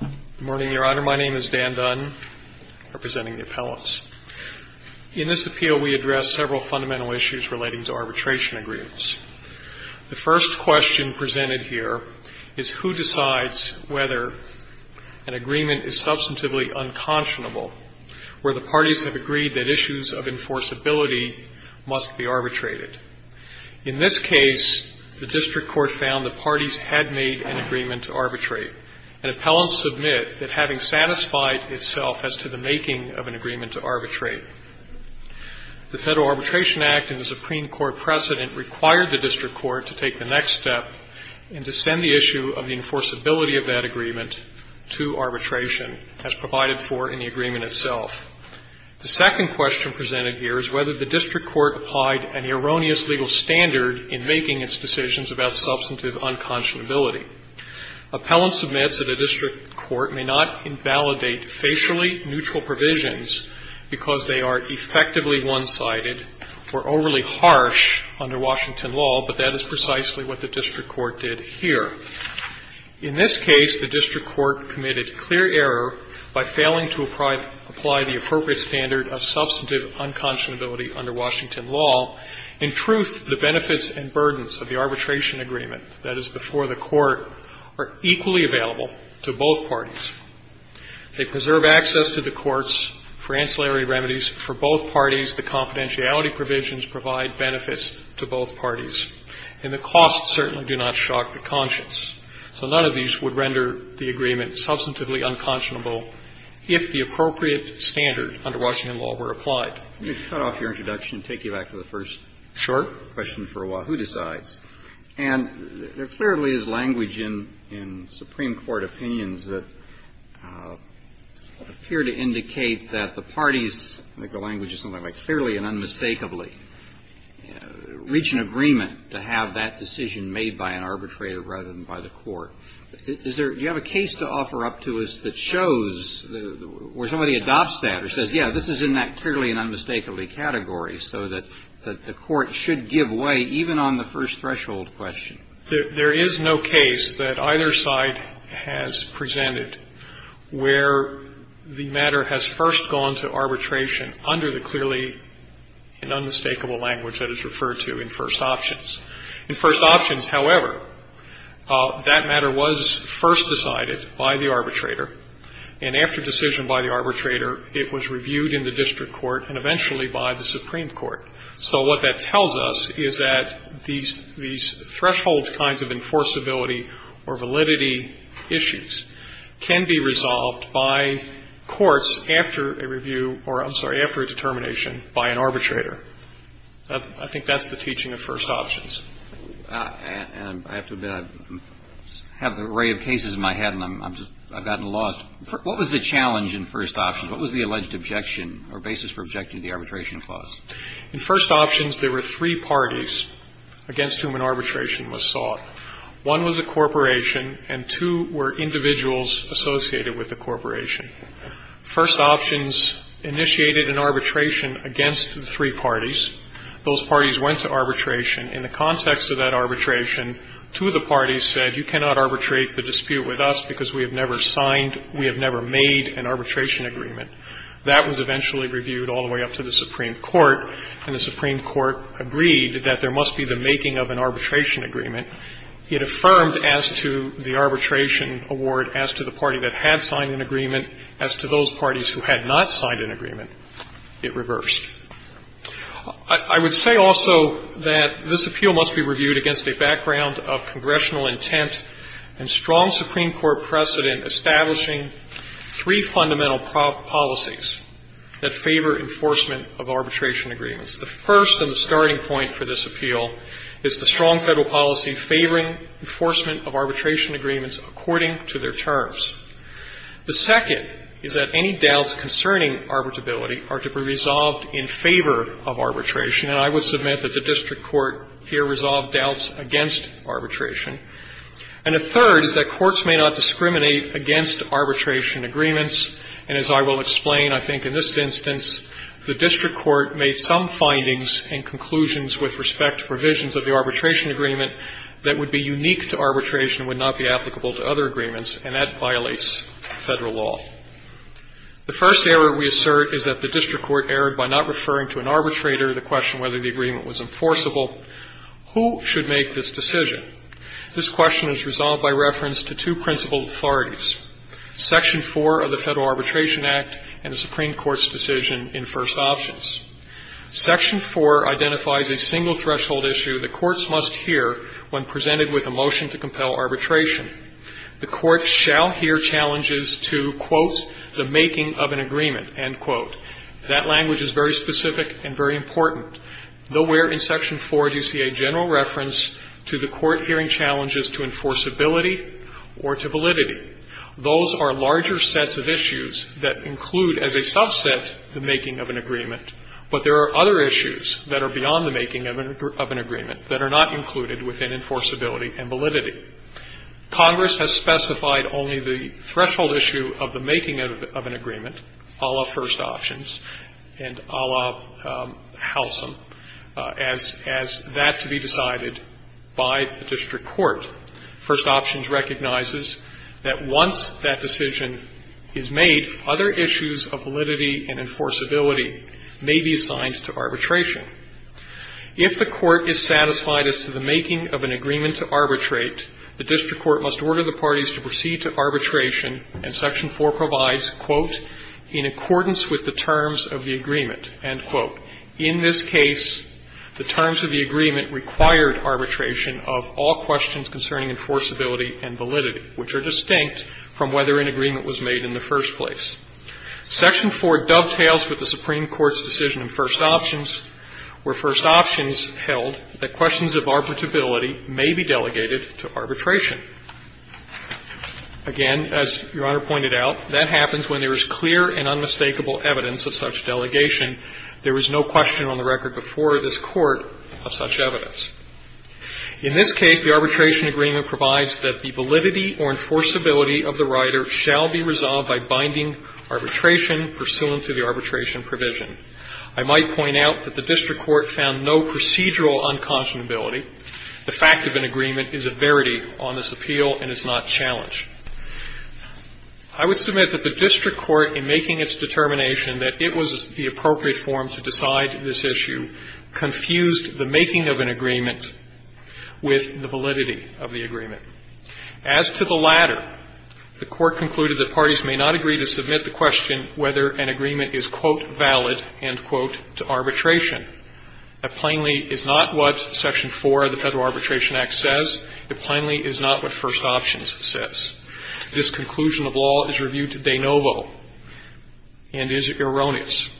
Good morning, Your Honor. My name is Dan Dunn, representing the appellants. In this appeal, we address several fundamental issues relating to arbitration agreements. The first question presented here is who decides whether an agreement is substantively unconscionable where the parties have agreed that issues of enforceability must be arbitrated. In this case, the district court found that an appellant submit that having satisfied itself as to the making of an agreement to arbitrate. The Federal Arbitration Act and the Supreme Court precedent required the district court to take the next step and to send the issue of the enforceability of that agreement to arbitration as provided for in the agreement itself. The second question presented here is whether the district court applied an erroneous legal standard in making its decisions about substantive unconscionability. Appellant submits that a district court may not invalidate facially neutral provisions because they are effectively one-sided or overly harsh under Washington law, but that is precisely what the district court did here. In this case, the district court committed clear error by failing to apply the appropriate standard of substantive unconscionability under Washington law. In truth, the benefits and burdens of the arbitration agreement, that is before the court, are equally available to both parties. They preserve access to the courts for ancillary remedies for both parties. The confidentiality provisions provide benefits to both parties. And the costs certainly do not shock the conscience. So none of these would render the agreement substantively unconscionable if the appropriate standard under Washington law were applied. Let me cut off your introduction and take you back to the first question for a while. Sure. Who decides? And there clearly is language in Supreme Court opinions that appear to indicate that the parties, I think the language is something like clearly and unmistakably, reach an agreement to have that decision made by an arbitrator rather than by the court. Do you have a case to offer up to us that shows where somebody adopts that or says, yeah, this is in that clearly and unmistakably category so that the court should give way even on the first threshold question? There is no case that either side has presented where the matter has first gone to arbitration under the clearly and unmistakable language that is referred to in first options. In first options, however, that matter was first decided by the arbitrator. And after decision by the arbitrator, it was reviewed in the district court and eventually by the Supreme Court. So what that tells us is that these threshold kinds of enforceability or validity issues can be resolved by courts after a review or, I'm sorry, after a determination by an arbitrator. I think that's the teaching of first options. And I have to admit, I have an array of cases in my head and I'm just, I've gotten lost. What was the challenge in first options? What was the alleged objection or basis for objecting to the arbitration clause? In first options, there were three parties against whom an arbitration was sought. One was a corporation and two were individuals associated with the corporation. First options initiated an arbitration against the three parties. Those parties went to arbitration. In the context of that arbitration, two of the parties said, you cannot arbitrate the dispute with us because we have never signed, we have never made an arbitration agreement. That was eventually reviewed all the way up to the Supreme Court, and the Supreme Court agreed that there must be the making of an arbitration agreement. It affirmed as to the arbitration award, as to the party that had signed an agreement, as to those parties who had not signed an agreement, it reversed. I would say also that this appeal must be reviewed against a background of congressional intent and strong Supreme Court precedent establishing three fundamental policies that favor enforcement of arbitration agreements. The first and the starting point for this appeal is the strong Federal policy favoring enforcement of arbitration agreements according to their terms. The second is that any doubts concerning arbitrability are to be resolved in favor of arbitration. And I would submit that the district court here resolved doubts against arbitration. And the third is that courts may not discriminate against arbitration agreements. And as I will explain, I think in this instance, the district court made some findings and conclusions with respect to provisions of the arbitration agreement that would be unique to arbitration and would not be applicable to other agreements, and that violates Federal law. The first error we assert is that the district court erred by not referring to an arbitrator, the question whether the agreement was enforceable. Who should make this decision? This question is resolved by reference to two principal authorities. Section 4 of the Federal Arbitration Act and the Supreme Court's decision in First Options. Section 4 identifies a single threshold issue that courts must hear when presented with a motion to compel arbitration. The court shall hear challenges to, quote, the making of an agreement, end quote. That language is very specific and very important. Nowhere in Section 4 do you see a general reference to the court hearing challenges to enforceability or to validity. Those are larger sets of issues that include as a subset the making of an agreement, but there are other issues that are beyond the making of an agreement that are not included within enforceability and validity. Congress has specified only the threshold issue of the making of an agreement, a la First Options and a la Halcyon, as that to be decided by the district court. First Options recognizes that once that decision is made, other issues of validity and enforceability may be assigned to arbitration. If the court is satisfied as to the making of an agreement to arbitrate, the district court must order the parties to proceed to arbitration, and Section 4 provides, quote, in accordance with the terms of the agreement, end quote. In this case, the terms of the agreement required arbitration of all questions concerning enforceability and validity, which are distinct from whether an agreement was made in the first place. Section 4 dovetails with the Supreme Court's decision in First Options, where First Options held that questions of arbitrability may be delegated to arbitration. Again, as Your Honor pointed out, that happens when there is clear and unmistakable evidence of such delegation. There was no question on the record before this Court of such evidence. In this case, the arbitration agreement provides that the validity or enforceability of the rider shall be resolved by binding arbitration pursuant to the arbitration provision. I might point out that the district court found no procedural unconscionability. The fact of an agreement is a verity on this appeal and is not challenged. I would submit that the district court, in making its determination that it was the appropriate form to decide this issue, confused the making of an agreement with the validity of the agreement. As to the latter, the Court concluded that parties may not agree to submit the question whether an agreement is, quote, valid, end quote, to arbitration. That plainly is not what Section 4 of the Federal Arbitration Act says. It plainly is not what First Options says. This conclusion of law is reviewed de novo and is erroneous.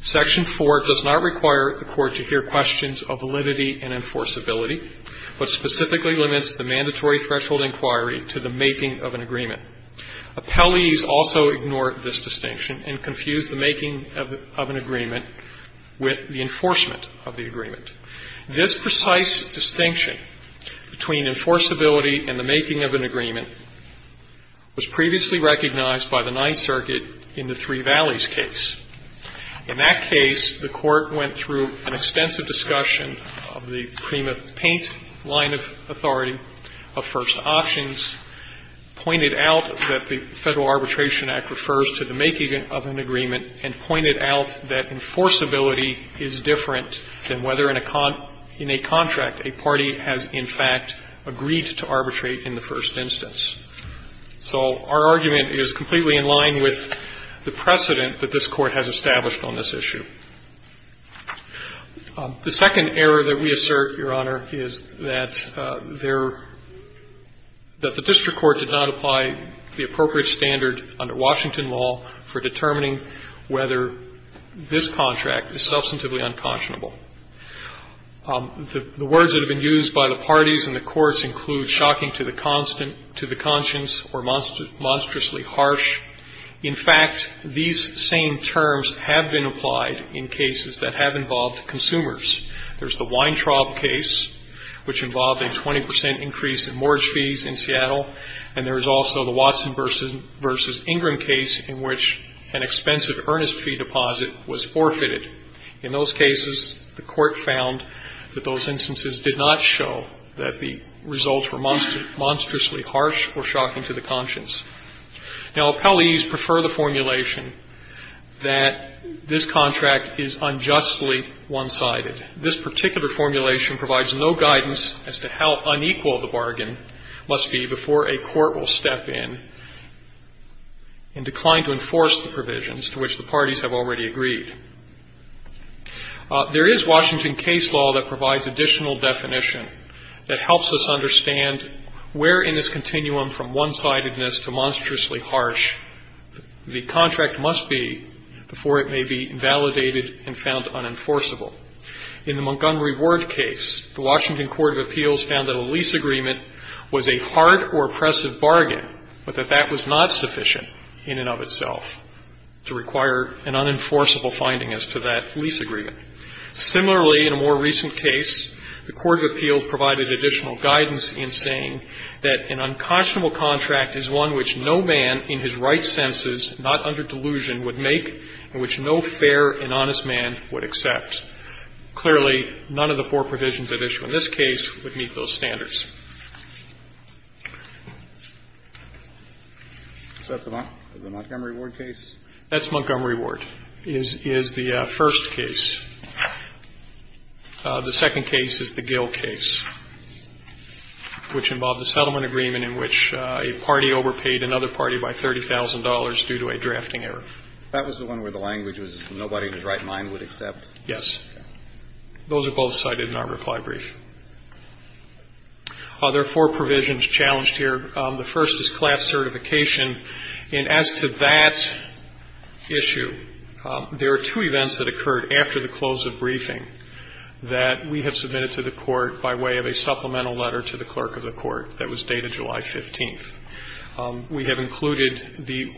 Section 4 does not require the Court to hear questions of validity and enforceability, but specifically limits the mandatory threshold inquiry to the making of an agreement. Appellees also ignore this distinction and confuse the making of an agreement with the enforcement of the agreement. This precise distinction between enforceability and the making of an agreement was previously recognized by the Ninth Circuit in the Three Valleys case. In that case, the Court went through an extensive discussion of the Prima Paint line of authority of First Options, pointed out that the Federal Arbitration Act refers to the making of an agreement, and pointed out that enforceability is different in a contract a party has, in fact, agreed to arbitrate in the first instance. So our argument is completely in line with the precedent that this Court has established on this issue. The second error that we assert, Your Honor, is that there – that the district court did not apply the appropriate standard under Washington law for determining whether this contract is substantively unconscionable. The words that have been used by the parties and the courts include shocking to the conscience or monstrously harsh. In fact, these same terms have been applied in cases that have involved consumers. There's the Weintraub case, which involved a 20 percent increase in mortgage fees in Seattle, and there is also the Watson v. Ingram case in which an expensive earnest fee deposit was forfeited. In those cases, the Court found that those instances did not show that the results were monstrously harsh or shocking to the conscience. Now, appellees prefer the formulation that this contract is unjustly one-sided. This particular formulation provides no guidance as to how unequal the bargain must be before a court will step in and decline to enforce the provisions to which the parties have already agreed. There is Washington case law that provides additional definition that helps us understand where in this continuum from one-sidedness to monstrously harsh the In the Montgomery Ward case, the Washington Court of Appeals found that a lease agreement was a hard or oppressive bargain, but that that was not sufficient in and of itself to require an unenforceable finding as to that lease agreement. Similarly, in a more recent case, the Court of Appeals provided additional guidance in saying that an unconscionable contract is one which no man in his right Clearly, none of the four provisions at issue in this case would meet those standards. Is that the Montgomery Ward case? That's Montgomery Ward, is the first case. The second case is the Gill case, which involved a settlement agreement in which a party overpaid another party by $30,000 due to a drafting error. That was the one where the language was nobody in his right mind would accept? Yes. Those are both cited in our reply brief. There are four provisions challenged here. The first is class certification, and as to that issue, there are two events that occurred after the close of briefing that we have submitted to the court by way of a supplemental letter to the clerk of the court that was dated July 15th. We have included the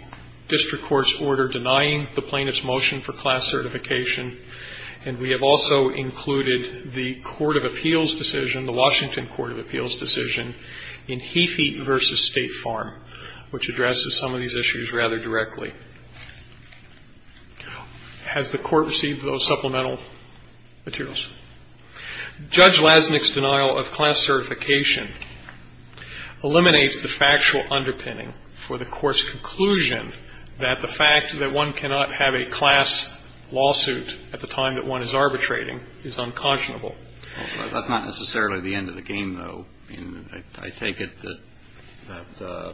district court's order denying the plaintiff's motion for class certification, and we have also included the Court of Appeals decision, the Washington Court of Appeals decision, in Heathie v. State Farm, which addresses some of these issues rather directly. Has the court received those supplemental materials? Judge Lasnik's denial of class certification eliminates the factual underpinning for the court's conclusion that the fact that one cannot have a class lawsuit at the time that one is arbitrating is unconscionable. That's not necessarily the end of the game, though. I mean, I take it that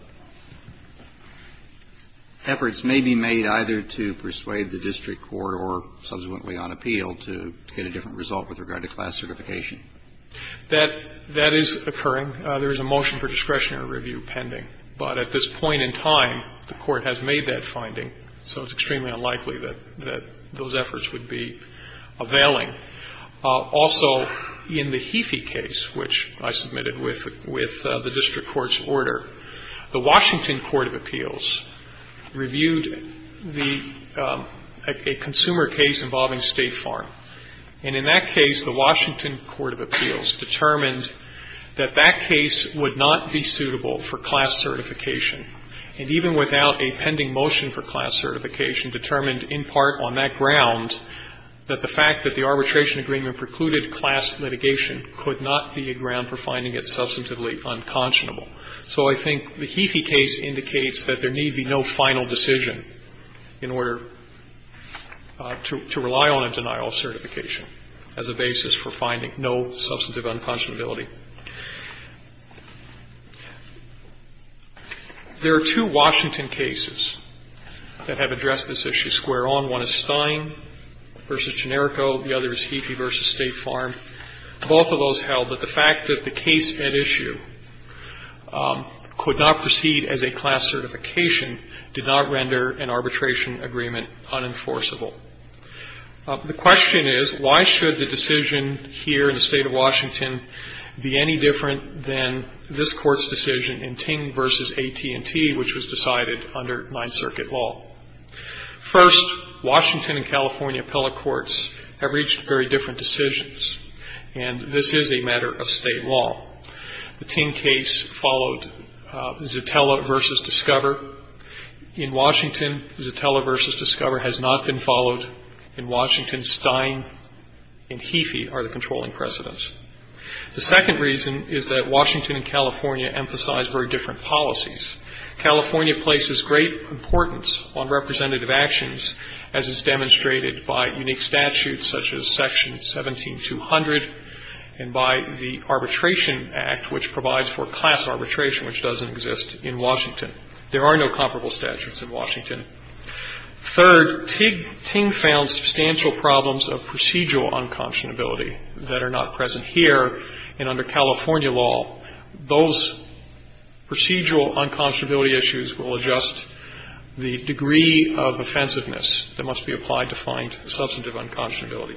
efforts may be made either to persuade the district court or subsequently on appeal to get a different result with regard to class certification. That is occurring. There is a motion for discretionary review pending. But at this point in time, the court has made that finding, so it's extremely unlikely that those efforts would be availing. Also, in the Heathie case, which I submitted with the district court's order, the Washington Court of Appeals reviewed a consumer case involving State Farm. And in that case, the Washington Court of Appeals determined that that case would not be suitable for class certification, and even without a pending motion for class certification determined in part on that ground, that the fact that the arbitration agreement precluded class litigation could not be a ground for finding it substantively unconscionable. So I think the Heathie case indicates that there need be no final decision in order to rely on a denial of certification as a basis for finding no substantive unconscionability. There are two Washington cases that have addressed this issue square on. One is Stein v. Generico. The other is Heathie v. State Farm. Both of those held that the fact that the case at issue could not proceed as a class certification did not render an arbitration agreement unenforceable. The question is, why should the decision here in the State of Washington be any different than this Court's decision in Ting v. AT&T, which was decided under Ninth Circuit law? First, Washington and California appellate courts have reached very different decisions, and this is a matter of State law. The Ting case followed Zitella v. Discover. In Washington, Zitella v. Discover has not been followed. In Washington, Stein and Heathie are the controlling precedents. The second reason is that Washington and California emphasize very different policies. California places great importance on representative actions, as is demonstrated by unique statutes such as Section 17200 and by the Arbitration Act, which provides for class arbitration, which doesn't exist in Washington. There are no comparable statutes in Washington. Third, Ting found substantial problems of procedural unconscionability that are not present here. And under California law, those procedural unconscionability issues will adjust the degree of offensiveness that must be applied to find substantive unconscionability.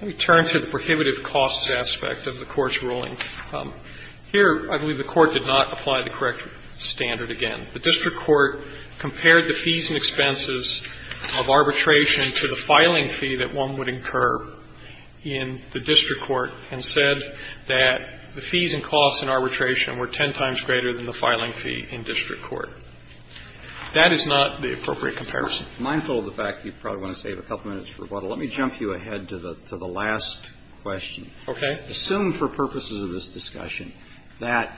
Let me turn to the prohibitive costs aspect of the Court's ruling. Here, I believe the Court did not apply the correct standard again. The district court compared the fees and expenses of arbitration to the filing fee that one would incur in the district court and said that the fees and costs in arbitration were ten times greater than the filing fee in district court. That is not the appropriate comparison. Mindful of the fact that you probably want to save a couple minutes for rebuttal, let me jump you ahead to the last question. Okay. Assume for purposes of this discussion that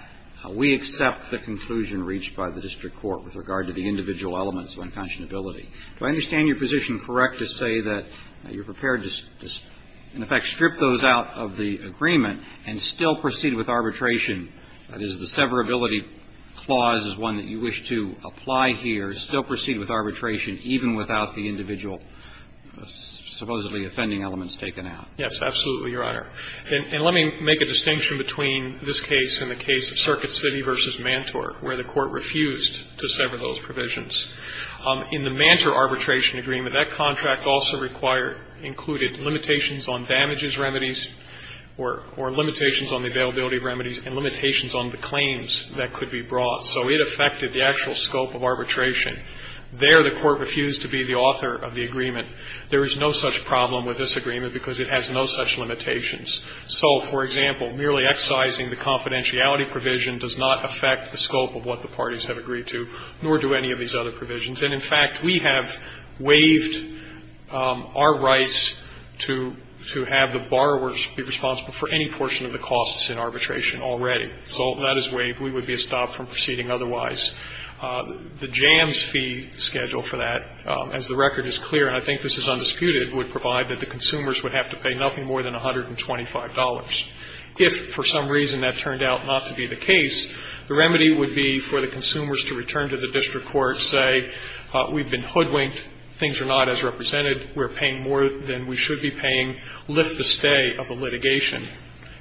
we accept the conclusion reached by the district court with regard to the individual elements of unconscionability. Do I understand your position correct to say that you're prepared to, in effect, strip those out of the agreement and still proceed with arbitration? That is, the severability clause is one that you wish to apply here, still proceed with arbitration even without the individual supposedly offending elements taken out. Yes, absolutely, Your Honor. And let me make a distinction between this case and the case of Circuit City v. Mantort, where the Court refused to sever those provisions. In the Mantor arbitration agreement, that contract also required or included limitations on damages remedies or limitations on the availability of remedies and limitations on the claims that could be brought. So it affected the actual scope of arbitration. There, the Court refused to be the author of the agreement. There is no such problem with this agreement because it has no such limitations. So, for example, merely excising the confidentiality provision does not affect the scope of what the parties have agreed to, nor do any of these other provisions. And, in fact, we have waived our rights to have the borrowers be responsible for any portion of the costs in arbitration already. So that is waived. We would be stopped from proceeding otherwise. The jams fee schedule for that, as the record is clear, and I think this is undisputed, would provide that the consumers would have to pay nothing more than $125. If, for some reason, that turned out not to be the case, the remedy would be for the consumers to return to the district court, say, we've been hoodwinked, things are not as represented, we're paying more than we should be paying, lift the stay of the litigation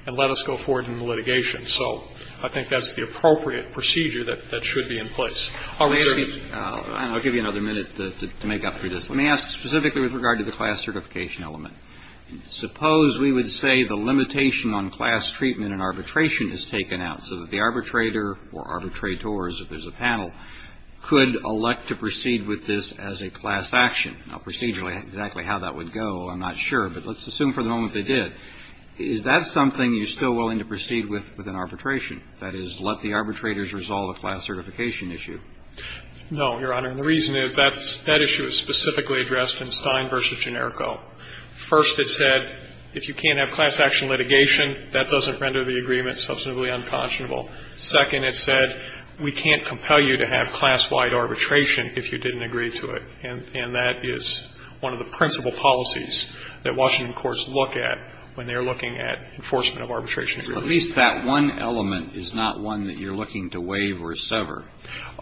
and let us go forward in the litigation. So I think that's the appropriate procedure that should be in place. Alito. Roberts. And I'll give you another minute to make up for this. Let me ask specifically with regard to the class certification element. Suppose we would say the limitation on class treatment in arbitration is taken out so that the arbitrator or arbitrators, if there's a panel, could elect to proceed with this as a class action. Now, procedurally, exactly how that would go, I'm not sure. But let's assume for the moment they did. Is that something you're still willing to proceed with in arbitration? That is, let the arbitrators resolve a class certification issue? No, Your Honor. And the reason is that issue is specifically addressed in Stein v. Generco. First, it said if you can't have class action litigation, that doesn't render the agreement substantively unconscionable. Second, it said we can't compel you to have class-wide arbitration if you didn't agree to it. And that is one of the principal policies that Washington courts look at when they are looking at enforcement of arbitration agreements. At least that one element is not one that you're looking to waive or sever.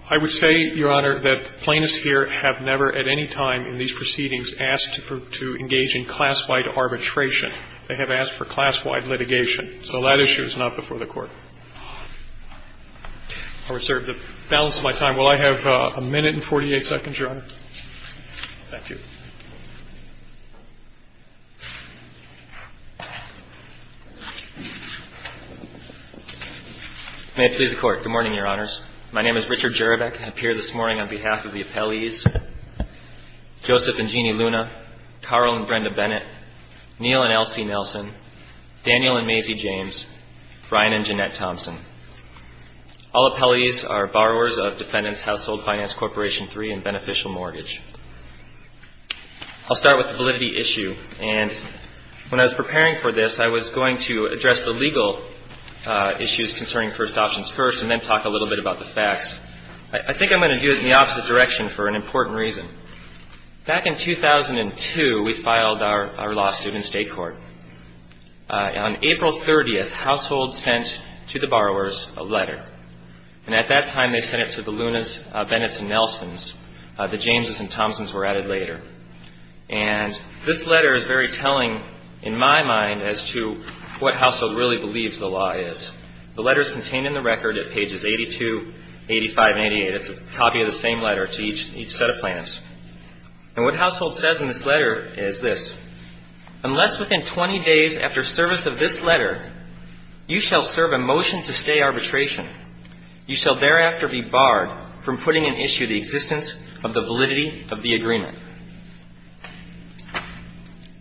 I would say, Your Honor, that plaintiffs here have never at any time in these proceedings asked to engage in class-wide arbitration. They have asked for class-wide litigation. So that issue is not before the Court. I reserve the balance of my time. Will I have a minute and 48 seconds, Your Honor? Thank you. May it please the Court. Good morning, Your Honors. My name is Richard Jerebeck. I appear this morning on behalf of the appellees, Joseph and Jeannie Luna, Carl and Brenda Bennett, Neil and Elsie Nelson, Daniel and Maisie James, Brian and Jeanette Thompson. All appellees are borrowers of Defendants Household Finance Corporation III and beneficial mortgage. I'll start with the validity issue. And when I was preparing for this, I was going to address the legal issues concerning first options first and then talk a little bit about the facts. I think I'm going to do it in the opposite direction for an important reason. Back in 2002, we filed our lawsuit in state court. On April 30th, Household sent to the borrowers a letter. And at that time, they sent it to the Lunas, Bennetts, and Nelsons. The Jameses and Thompsons were added later. And this letter is very telling in my mind as to what Household really believes the law is. The letter is contained in the record at pages 82, 85, and 88. It's a copy of the same letter to each set of plaintiffs. And what Household says in this letter is this. Unless within 20 days after service of this letter, you shall serve a motion to stay arbitration. You shall thereafter be barred from putting in issue the existence of the validity of the agreement.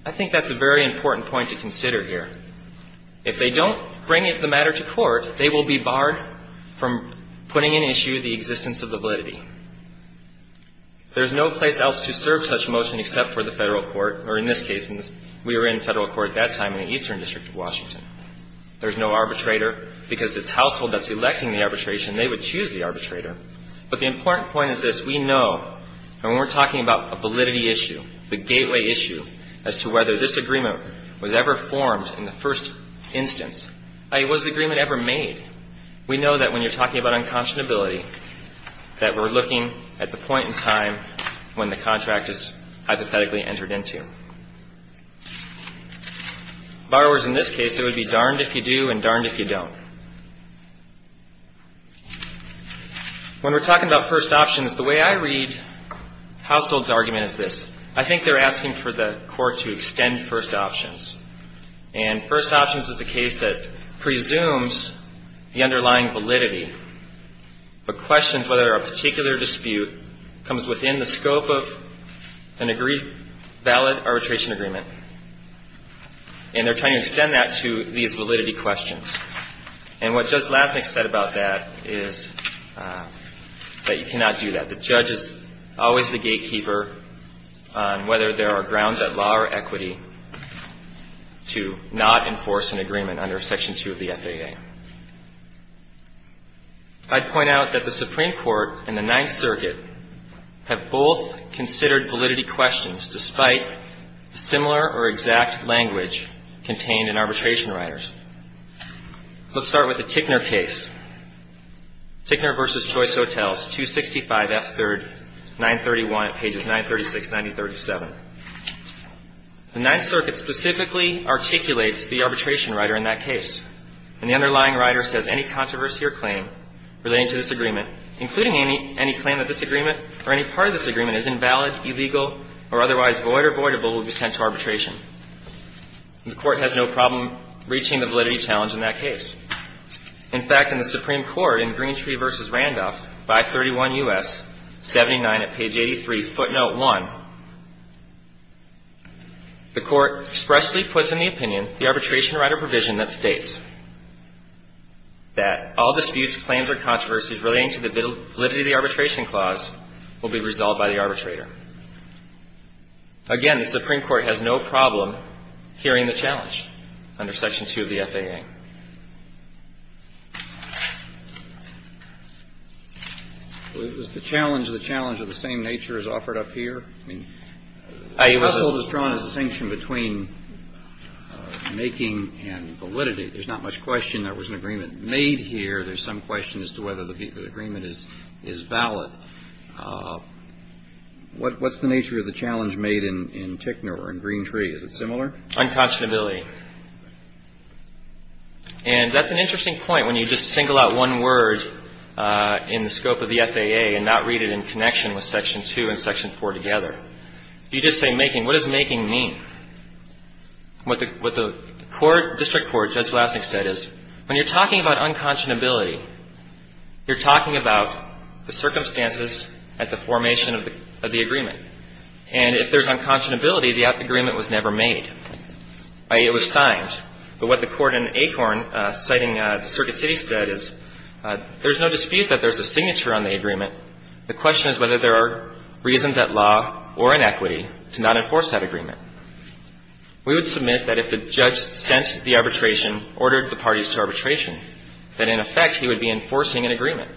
I think that's a very important point to consider here. If they don't bring the matter to court, they will be barred from putting in issue the existence of the validity. There's no place else to serve such a motion except for the federal court, or in this case, we were in federal court at that time in the Eastern District of Washington. There's no arbitrator. Because it's Household that's electing the arbitration, they would choose the arbitrator. But the important point is this. We know, and we're talking about a validity issue, the gateway issue, as to whether this agreement was ever formed in the first instance. I mean, was the agreement ever made? We know that when you're talking about unconscionability, that we're looking at the point in time when the contract is hypothetically entered into. Borrowers in this case, it would be darned if you do and darned if you don't. When we're talking about first options, the way I read Household's argument is this. I think they're asking for the court to extend first options. And first options is a case that presumes the underlying validity, but questions whether a particular dispute comes within the scope of an agreed valid arbitration agreement. And they're trying to extend that to these validity questions. And what Judge Lasnik said about that is that you cannot do that. The judge is always the gatekeeper on whether there are grounds of law or equity to not enforce an agreement under Section 2 of the FAA. I'd point out that the Supreme Court and the Ninth Circuit have both considered validity questions despite similar or exact language contained in arbitration writers. Let's start with the Tickner case. Tickner v. Choice Hotels, 265F3rd, 931 at pages 936, 9037. The Ninth Circuit specifically articulates the arbitration writer in that case. And the underlying writer says any controversy or claim relating to this agreement, including any claim that this agreement or any part of this agreement is invalid, illegal, or otherwise void or voidable, will be sent to arbitration. And the Court has no problem reaching the validity challenge in that case. In fact, in the Supreme Court in Greentree v. Randolph, 531 U.S., 79 at page 83, footnote 1, the Court expressly puts in the opinion the arbitration writer provision that states that all disputes, claims, or controversies relating to the validity of the arbitration clause will be resolved by the arbitrator. Again, the Supreme Court has no problem hearing the challenge under Section 2 of the FAA. Was the challenge the challenge of the same nature as offered up here? I mean, the puzzle is drawn as a distinction between making and validity. There's not much question there was an agreement made here. There's some question as to whether the agreement is valid. What's the nature of the challenge made in Tickner or in Greentree? Is it similar? Unconstability. And that's an interesting point when you just single out one word in the scope of the FAA and not read it in connection with Section 2 and Section 4 together. You just say making. What does making mean? What the court, district court, Judge Lasnik said is when you're talking about unconscionability, you're talking about the circumstances at the formation of the agreement. And if there's unconscionability, the agreement was never made. I.e., it was signed. But what the court in Acorn citing Circuit City said is there's no dispute that there's a signature on the agreement. The question is whether there are reasons at law or in equity to not enforce that agreement. We would submit that if the judge sent the arbitration, ordered the parties to arbitration, that in effect he would be enforcing an agreement.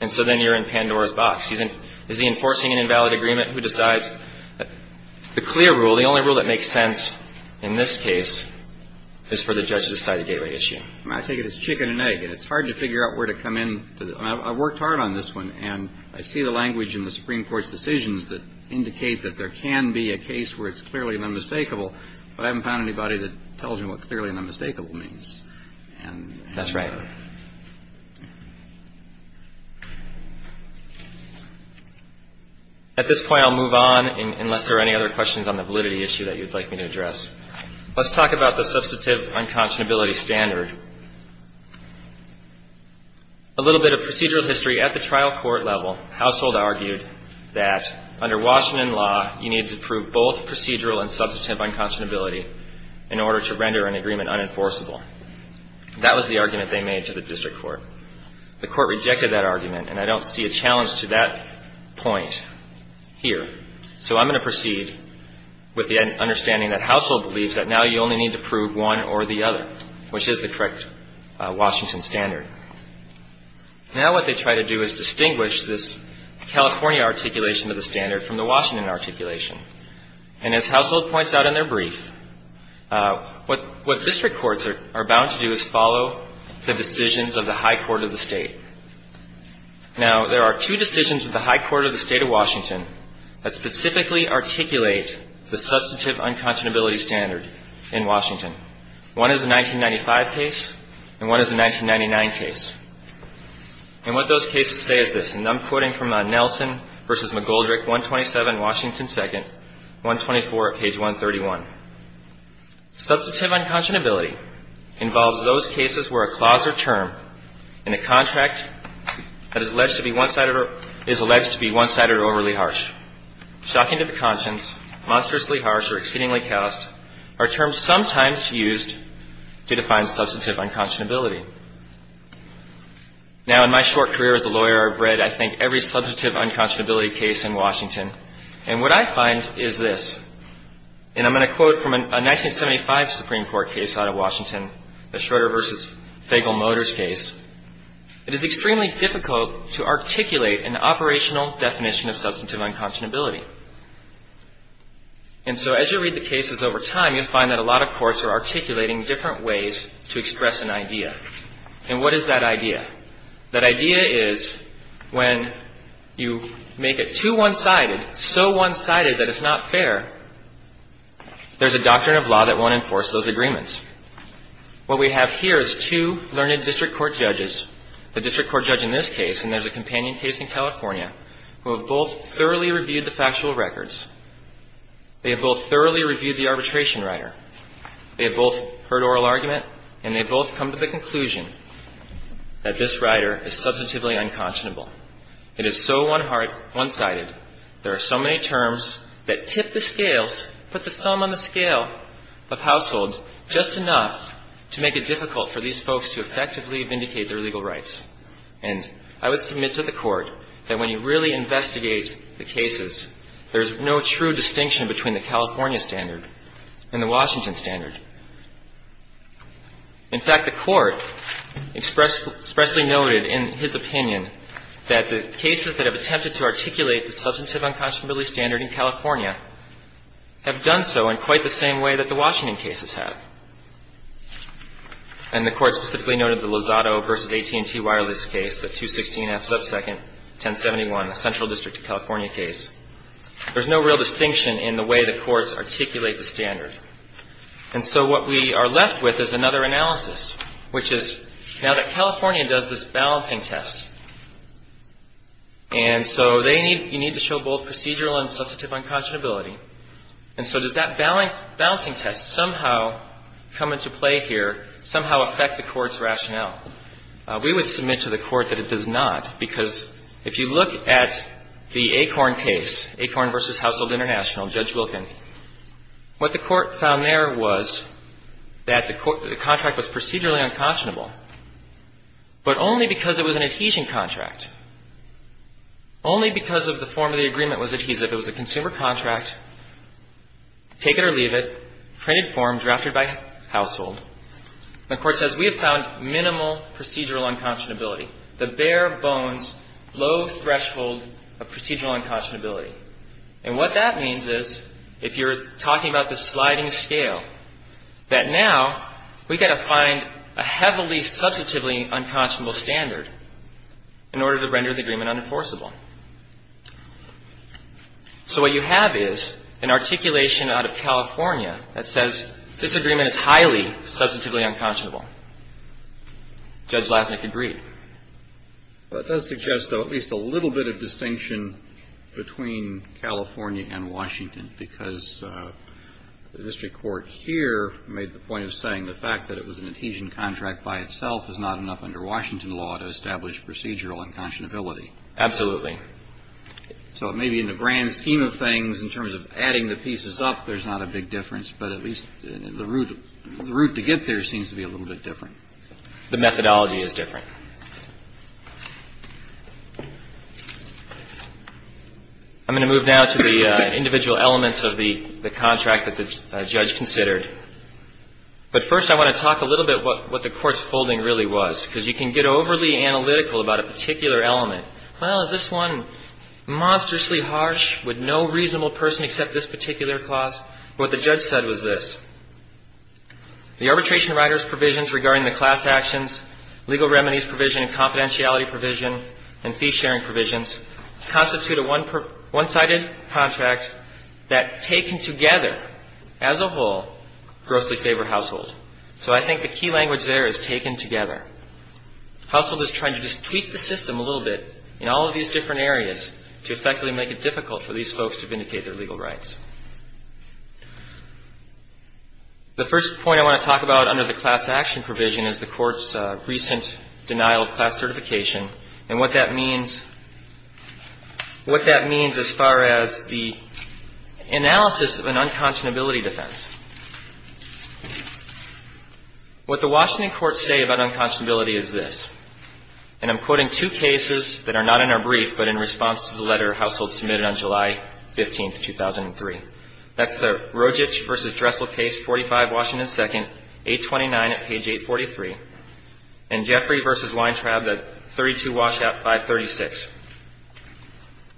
And so then you're in Pandora's box. Is he enforcing an invalid agreement? Who decides? The clear rule, the only rule that makes sense in this case is for the judge to decide a gateway issue. I take it as chicken and egg. And it's hard to figure out where to come in. I worked hard on this one. And I see the language in the Supreme Court's decisions that indicate that there can be a case where it's clearly an unmistakable, but I haven't found anybody that tells me what clearly an unmistakable means. That's right. At this point, I'll move on unless there are any other questions on the validity issue that you'd like me to address. Let's talk about the substantive unconscionability standard. A little bit of procedural history. At the trial court level, Household argued that under Washington law, you needed to prove both procedural and substantive unconscionability in order to render an agreement unenforceable. That was the argument they made. The court rejected that argument, and I don't see a challenge to that point here. So I'm going to proceed with the understanding that Household believes that now you only need to prove one or the other, which is the correct Washington standard. Now what they try to do is distinguish this California articulation of the standard from the Washington articulation. And as Household points out in their brief, what district courts are bound to do is follow the decisions of the high court of the state. Now, there are two decisions of the high court of the state of Washington that specifically articulate the substantive unconscionability standard in Washington. One is a 1995 case, and one is a 1999 case. And what those cases say is this. And I'm quoting from Nelson v. McGoldrick, 127, Washington 2nd, 124, page 131. Substantive unconscionability involves those cases where a clause or term in a contract that is alleged to be one-sided or overly harsh, shocking to the conscience, monstrously harsh, or exceedingly callous, are terms sometimes used to define substantive unconscionability. Now, in my short career as a lawyer, I've read, I think, every substantive unconscionability case in Washington. And what I find is this. And I'm going to quote from a 1975 Supreme Court case out of Washington, the Schroeder v. Fagel-Motors case. It is extremely difficult to articulate an operational definition of substantive unconscionability. And so as you read the cases over time, you'll find that a lot of courts are articulating different ways to express an idea. And what is that idea? That idea is when you make it too one-sided, so one-sided that it's not fair, there's a doctrine of law that won't enforce those agreements. What we have here is two learned district court judges. The district court judge in this case, and there's a companion case in California, who have both thoroughly reviewed the factual records. They have both thoroughly reviewed the arbitration writer. They have both heard oral argument, and they have both come to the conclusion that this writer is substantively unconscionable. It is so one-hearted, one-sided, there are so many terms that tip the scales, put the thumb on the scale of household, just enough to make it difficult for these folks to effectively vindicate their legal rights. And I would submit to the Court that when you really investigate the cases, there's no true distinction between the California standard and the Washington standard. In fact, the Court expressly noted in his opinion that the cases that have attempted to articulate the substantive unconscionability standard in California have done so in quite the same way that the Washington cases have. And the Court specifically noted the Lozado v. AT&T Wireless case, the 216 F. Subsecond 1071 Central District of California case. There's no real distinction in the way the courts articulate the standard. And so what we are left with is another analysis, which is now that California does this balancing test, and so they need to show both procedural and substantive unconscionability. And so does that balancing test somehow come into play here, somehow affect the Court's rationale? We would submit to the Court that it does not, because if you look at the Acorn case, Acorn v. Household International, Judge Wilkin, what the Court found there was that the contract was procedurally unconscionable, but only because it was an adhesion contract, only because of the form of the agreement was adhesive. It was a consumer contract, take it or leave it, printed form, drafted by household. The Court says we have found minimal procedural unconscionability, the bare bones, low threshold of procedural unconscionability. And what that means is, if you're talking about the sliding scale, that now we've got to find a heavily substantively unconscionable standard in order to render the agreement unenforceable. So what you have is an articulation out of California that says this agreement is highly substantive. Substantively unconscionable. Judge Lasnik agreed. Well, it does suggest, though, at least a little bit of distinction between California and Washington, because the district court here made the point of saying the fact that it was an adhesion contract by itself is not enough under Washington law to establish procedural unconscionability. Absolutely. So maybe in the grand scheme of things, in terms of adding the pieces up, there's not a big difference. But at least the route to get there seems to be a little bit different. The methodology is different. I'm going to move now to the individual elements of the contract that the judge considered. But first I want to talk a little bit what the Court's folding really was, because you can get overly analytical about a contract that's done monstrously harsh with no reasonable person except this particular class. But what the judge said was this. The arbitration writer's provisions regarding the class actions, legal remedies provision and confidentiality provision and fee-sharing provisions constitute a one-sided contract that, taken together as a whole, grossly favor household. So I think the key language there is taken together. Household is trying to just tweak the system a little bit in all of these different areas to effectively make it difficult for these folks to vindicate their legal rights. The first point I want to talk about under the class action provision is the Court's recent denial of class certification and what that means as far as the analysis of an unconscionability defense. What the Washington courts say about unconscionability is this. And I'm quoting two cases that are not in our brief, but in response to the letter Household submitted on July 15th, 2003. That's the Rojic v. Dressel case, 45, Washington 2nd, 829 at page 843, and Jeffrey v. Weintraub at 32 Washout 536.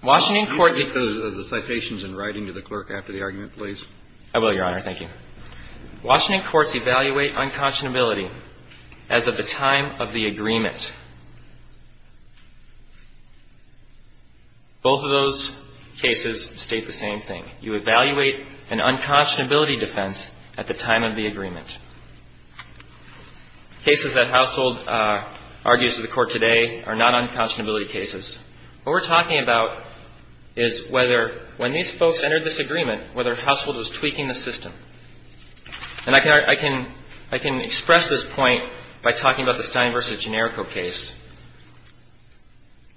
Washington courts do you... Washington courts evaluate unconscionability as of the time of the agreement. Both of those cases state the same thing. You evaluate an unconscionability defense at the time of the agreement. Cases that Household argues to the Court today are not unconscionability cases. What we're talking about is whether when these folks entered this agreement, whether Household was tweaking the system. And I can express this point by talking about the Stein v. Generico case.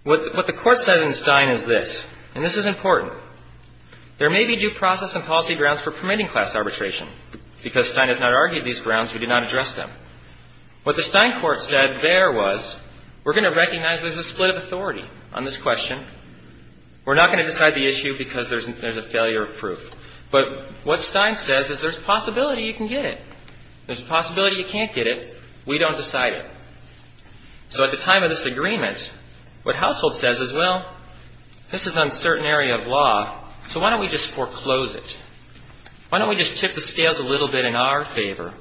What the Court said in Stein is this, and this is important. There may be due process and policy grounds for permitting class arbitration. Because Stein has not argued these grounds, we do not address them. On this question, we're not going to decide the issue because there's a failure of proof. But what Stein says is there's a possibility you can get it. There's a possibility you can't get it. We don't decide it. So at the time of this agreement, what Household says is, well, this is an uncertain area of law, so why don't we just foreclose it? Why don't we just tip the scales a little bit in our favor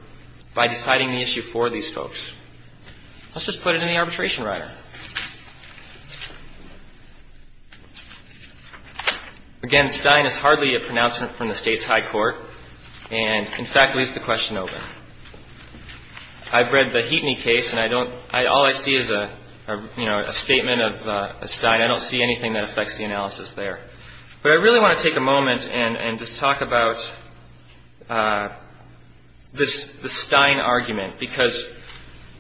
by deciding the issue for these folks? Let's just put it in the arbitration rider. Again, Stein is hardly a pronouncement from the state's high court and, in fact, leaves the question open. I've read the Heapney case, and all I see is a statement of Stein. I don't see anything that affects the analysis there. But I really want to take a moment and just talk about the Stein argument, because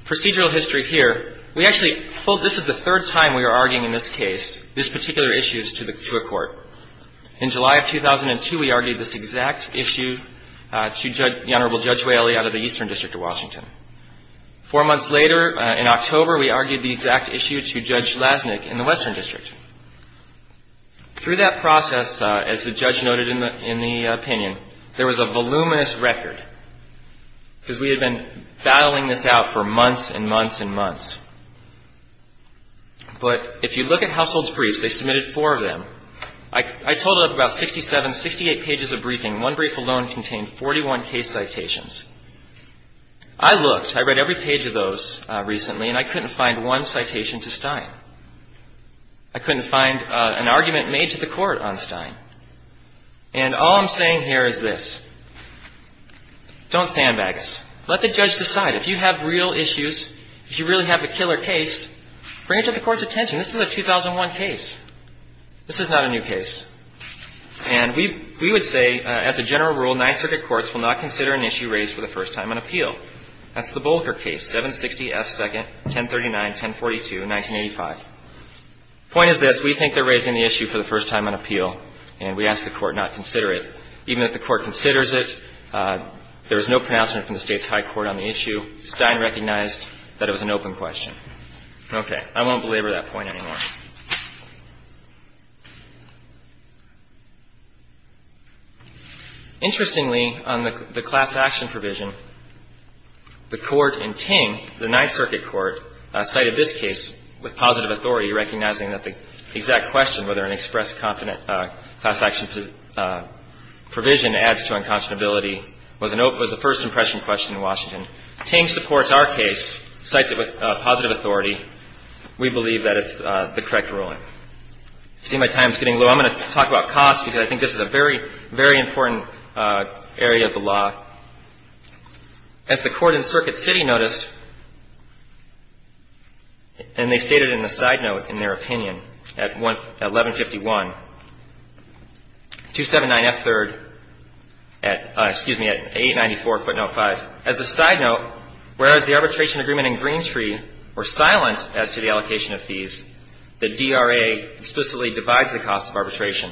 procedural history here, we actually hold this as the third time we are arguing in this case, these particular issues to a court. In July of 2002, we argued this exact issue to the Honorable Judge Whaley out of the Eastern District of Washington. Four months later, in October, we argued the exact issue to Judge Lasnik in the Western District. Through that process, as the judge noted in the opinion, there was a voluminous record, because we had been battling this out for months and months and months. But if you look at Households Briefs, they submitted four of them. I totaled up about 67, 68 pages of briefing. One brief alone contained 41 case citations. I looked. I read every page of those recently, and I couldn't find one citation to Stein. I couldn't find an argument made to the Court on Stein. And all I'm saying here is this. Don't sandbag us. Let the judge decide. If you have real issues, if you really have a killer case, bring it to the Court's attention. This is a 2001 case. This is not a new case. And we would say, as a general rule, Ninth Circuit courts will not consider an issue raised for the first time on appeal. That's the Bolker case, 760 F. 2nd, 1039-1042, 1985. Point is this. We think they're raising the issue for the first time on appeal, and we ask the Court not consider it. Even if the Court considers it, there is no pronouncement from the state's high court on the issue. Stein recognized that it was an open question. Okay. I won't belabor that point anymore. Interestingly, on the class action provision, the Court in Ting, the Ninth Circuit Court, cited this case with positive authority, recognizing that the exact question, whether an express class action provision adds to unconscionability, was a first impression question in Washington. Ting supports our case, cites it with positive authority. We believe that it's the correct ruling. See, my time's getting low. I'm going to talk about cost, because I think this is a very, very important area of the law. As the Court in Circuit City noticed, and they stated in the side note, in their opinion, at 1151, 279F3rd, excuse me, at 894 footnote 5. As a side note, whereas the arbitration agreement in Greentree were silent as to the allocation of fees, the DRA explicitly divides the cost of arbitration.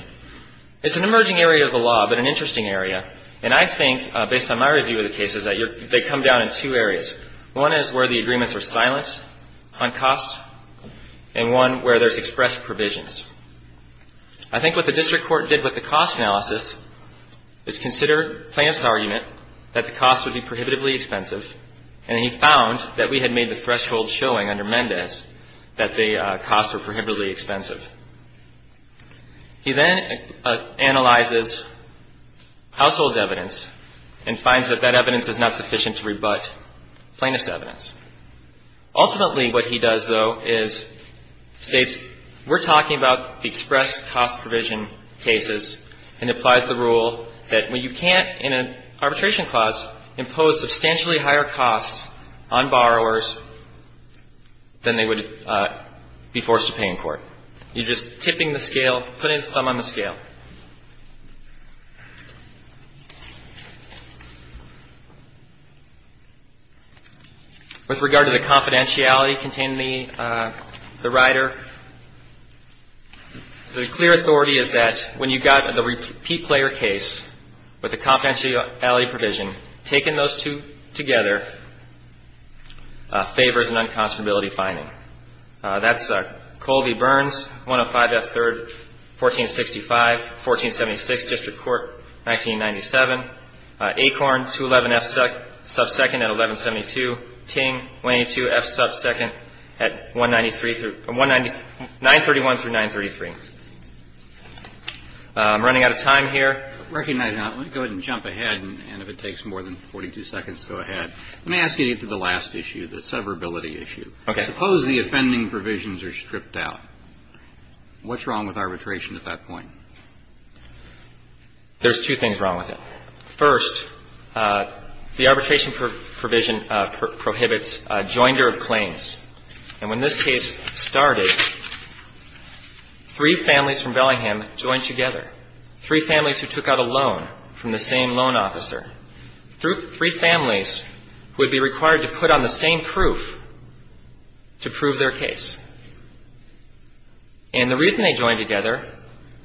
It's an emerging area of the law, but an interesting area, and I think, based on my review of the cases, that they come down in two areas. One is where the agreements are silent on cost, and one where there's expressed provisions. I think what the district court did with the cost analysis is consider Clamp's argument that the cost would be prohibitively expensive, and he found that we had made the threshold showing under Mendez that the costs were prohibitively expensive. He then analyzes household evidence and finds that that evidence is not sufficient to rebut. Plaintiff's evidence. Ultimately, what he does, though, is states, we're talking about the express cost provision cases, and applies the rule that when you can't, in an arbitration clause, impose substantially higher costs on borrowers than they would be forced to pay in court. You're just tipping the scale, putting the thumb on the scale. With regard to the confidentiality contained in the rider, the clear authority is that when you've got the repeat player case with the confidentiality provision, taking those two together favors an unconstitutability finding. That's Colby-Burns, 105 F. 3rd, 1465, 1476, District Court, 1997. Acorn, 211 F. 2nd at 1172. Ting, 182 F. 2nd at 193, 931 through 933. I'm running out of time here. Let me ask you to get to the last issue, the severability issue. Suppose the offending provisions are stripped out. What's wrong with arbitration at that point? There's two things wrong with it. First, the arbitration provision prohibits joinder of claims. And when this case started, three families from Bellingham joined together, three families who took out a loan from the same loan officer. Three families would be required to put on the same proof to prove their case. And the reason they joined together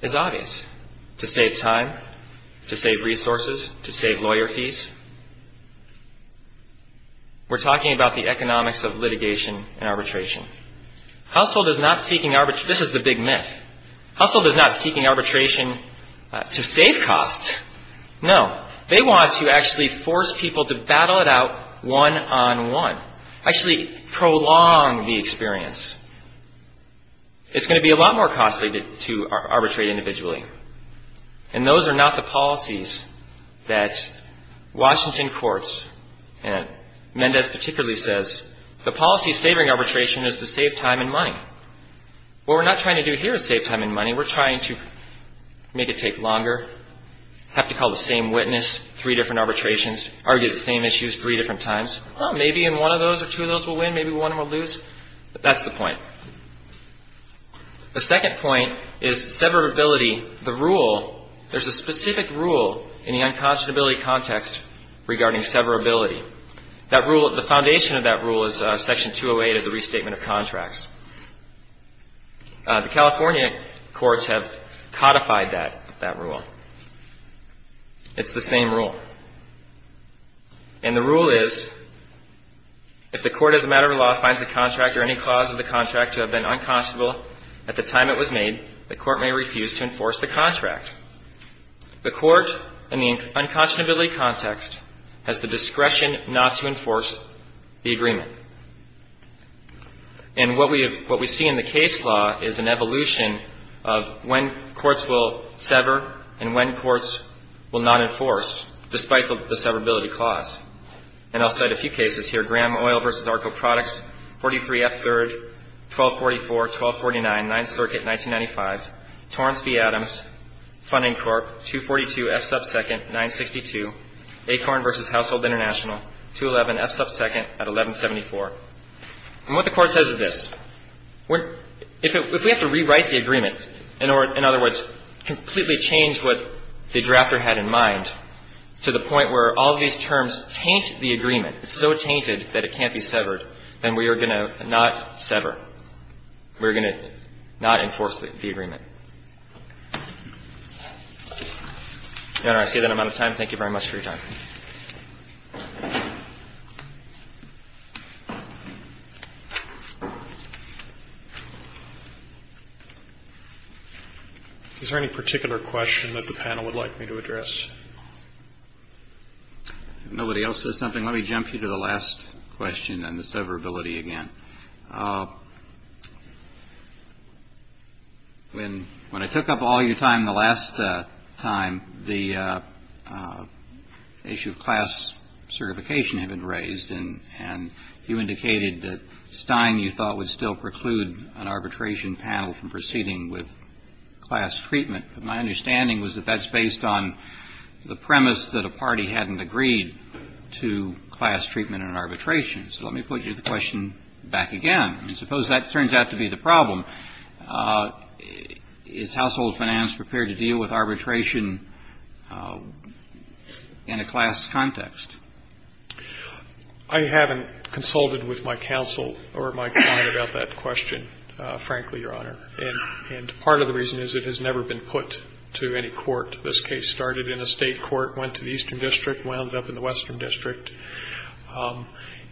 is obvious. To save time, to save resources, to save lawyer fees. We're talking about the economics of litigation and arbitration. Household is not seeking arbitration. This is the big myth. Household is not seeking arbitration to save costs. No, they want to actually force people to battle it out one-on-one, actually prolong the experience. It's going to be a lot more costly to arbitrate individually. And those are not the policies that Washington courts, and Mendez particularly says the policies favoring arbitration is to save time and money. What we're not trying to do here is save time and money. We're trying to make it take longer, have to call the same witness, three different arbitrations, argue the same issues three different times. Maybe in one of those or two of those we'll win, maybe one of them we'll lose. But that's the point. The second point is severability. There's a specific rule in the unconscionability context regarding severability. The foundation of that rule is Section 208 of the Restatement of Contracts. The California courts have codified that rule. It's the same rule. And the rule is, if the court as a matter of law finds a contract or any clause of the contract to have been unconscionable at the time it was made, the court may refuse to enforce the contract. The court in the unconscionability context has the discretion not to enforce the agreement. And what we see in the case law is an evolution of when courts will sever, and when courts will not enforce, despite the severability clause. And I'll cite a few cases here, Graham Oil v. Arco Products, 43F 3rd, 1244, 1249, 9th Circuit, 1995. Torrance v. Adams, Funding Corp, 242F 2nd, 962. Acorn v. Household International, 211F 2nd at 1174. And what the court says is this. If we have to rewrite the agreement, in other words, completely change what the drafter had in mind to the point where all these terms taint the agreement, it's so tainted that it can't be severed, then we are going to not sever. We are going to not enforce the agreement. Your Honor, I see that I'm out of time. Thank you very much for your time. Is there any particular question that the panel would like me to address? If nobody else says something, let me jump you to the last question and the severability again. When I took up all your time the last time, the issue of class certification had been raised, and you indicated that Stein, you thought, would still preclude an arbitration panel from proceeding with class treatment. But my understanding was that that's based on the premise that a party hadn't agreed to class treatment and arbitration. So let me put the question back again. I mean, suppose that turns out to be the problem. Is Household Finance prepared to deal with arbitration in a class context? I haven't consulted with my counsel or my client about that question, frankly, Your Honor. And part of the reason is it has never been put to any court. This case started in a state court, went to the Eastern District, wound up in the Western District,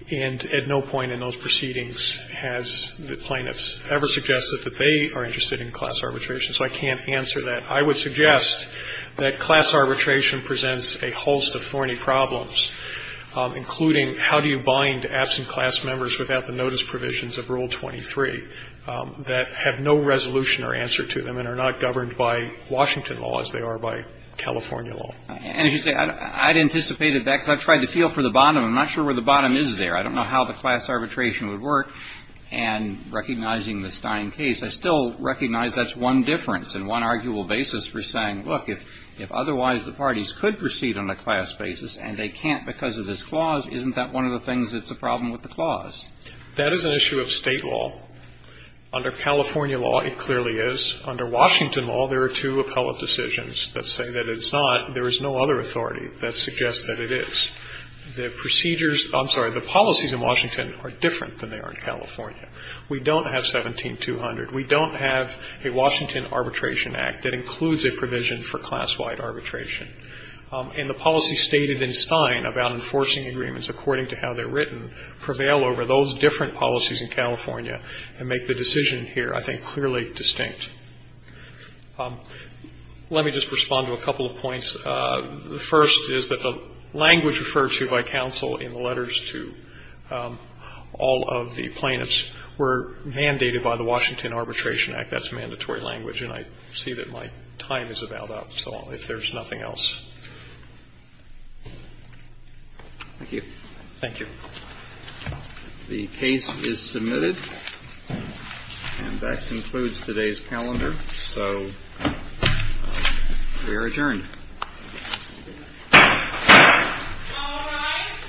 and at no point in those proceedings has the plaintiffs ever suggested that they are interested in class arbitration. So I can't answer that. I would suggest that class arbitration presents a host of thorny problems, including how do you bind absent class members without the notice provisions of Rule 23 that have no resolution or answer to them and are not governed by Washington law as they are by California law. And as you say, I'd anticipated that because I've tried to feel for the bottom. I'm not sure where the bottom is there. I don't know how the class arbitration would work. And recognizing the Stein case, I still recognize that's one difference and one arguable basis for saying, look, if otherwise the parties could proceed on a class basis and they can't because of this clause, isn't that one of the things that's a problem with the clause? That is an issue of state law. Under California law, it clearly is. Under Washington law, there are two appellate decisions that say that it's not. There is no other authority that suggests that it is. The procedures – I'm sorry. The policies in Washington are different than they are in California. We don't have 17-200. We don't have a Washington Arbitration Act that includes a provision for class-wide arbitration. And the policies stated in Stein about enforcing agreements according to how they're written prevail over those different policies in California and make the decision here, I think, clearly distinct. Let me just respond to a couple of points. The first is that the language referred to by counsel in the letters to all of the plaintiffs were mandated by the Washington Arbitration Act. That's mandatory language. And I see that my time is about up, so if there's nothing else. Thank you. Thank you. The case is submitted. And that concludes today's calendar. So we are adjourned. All rise.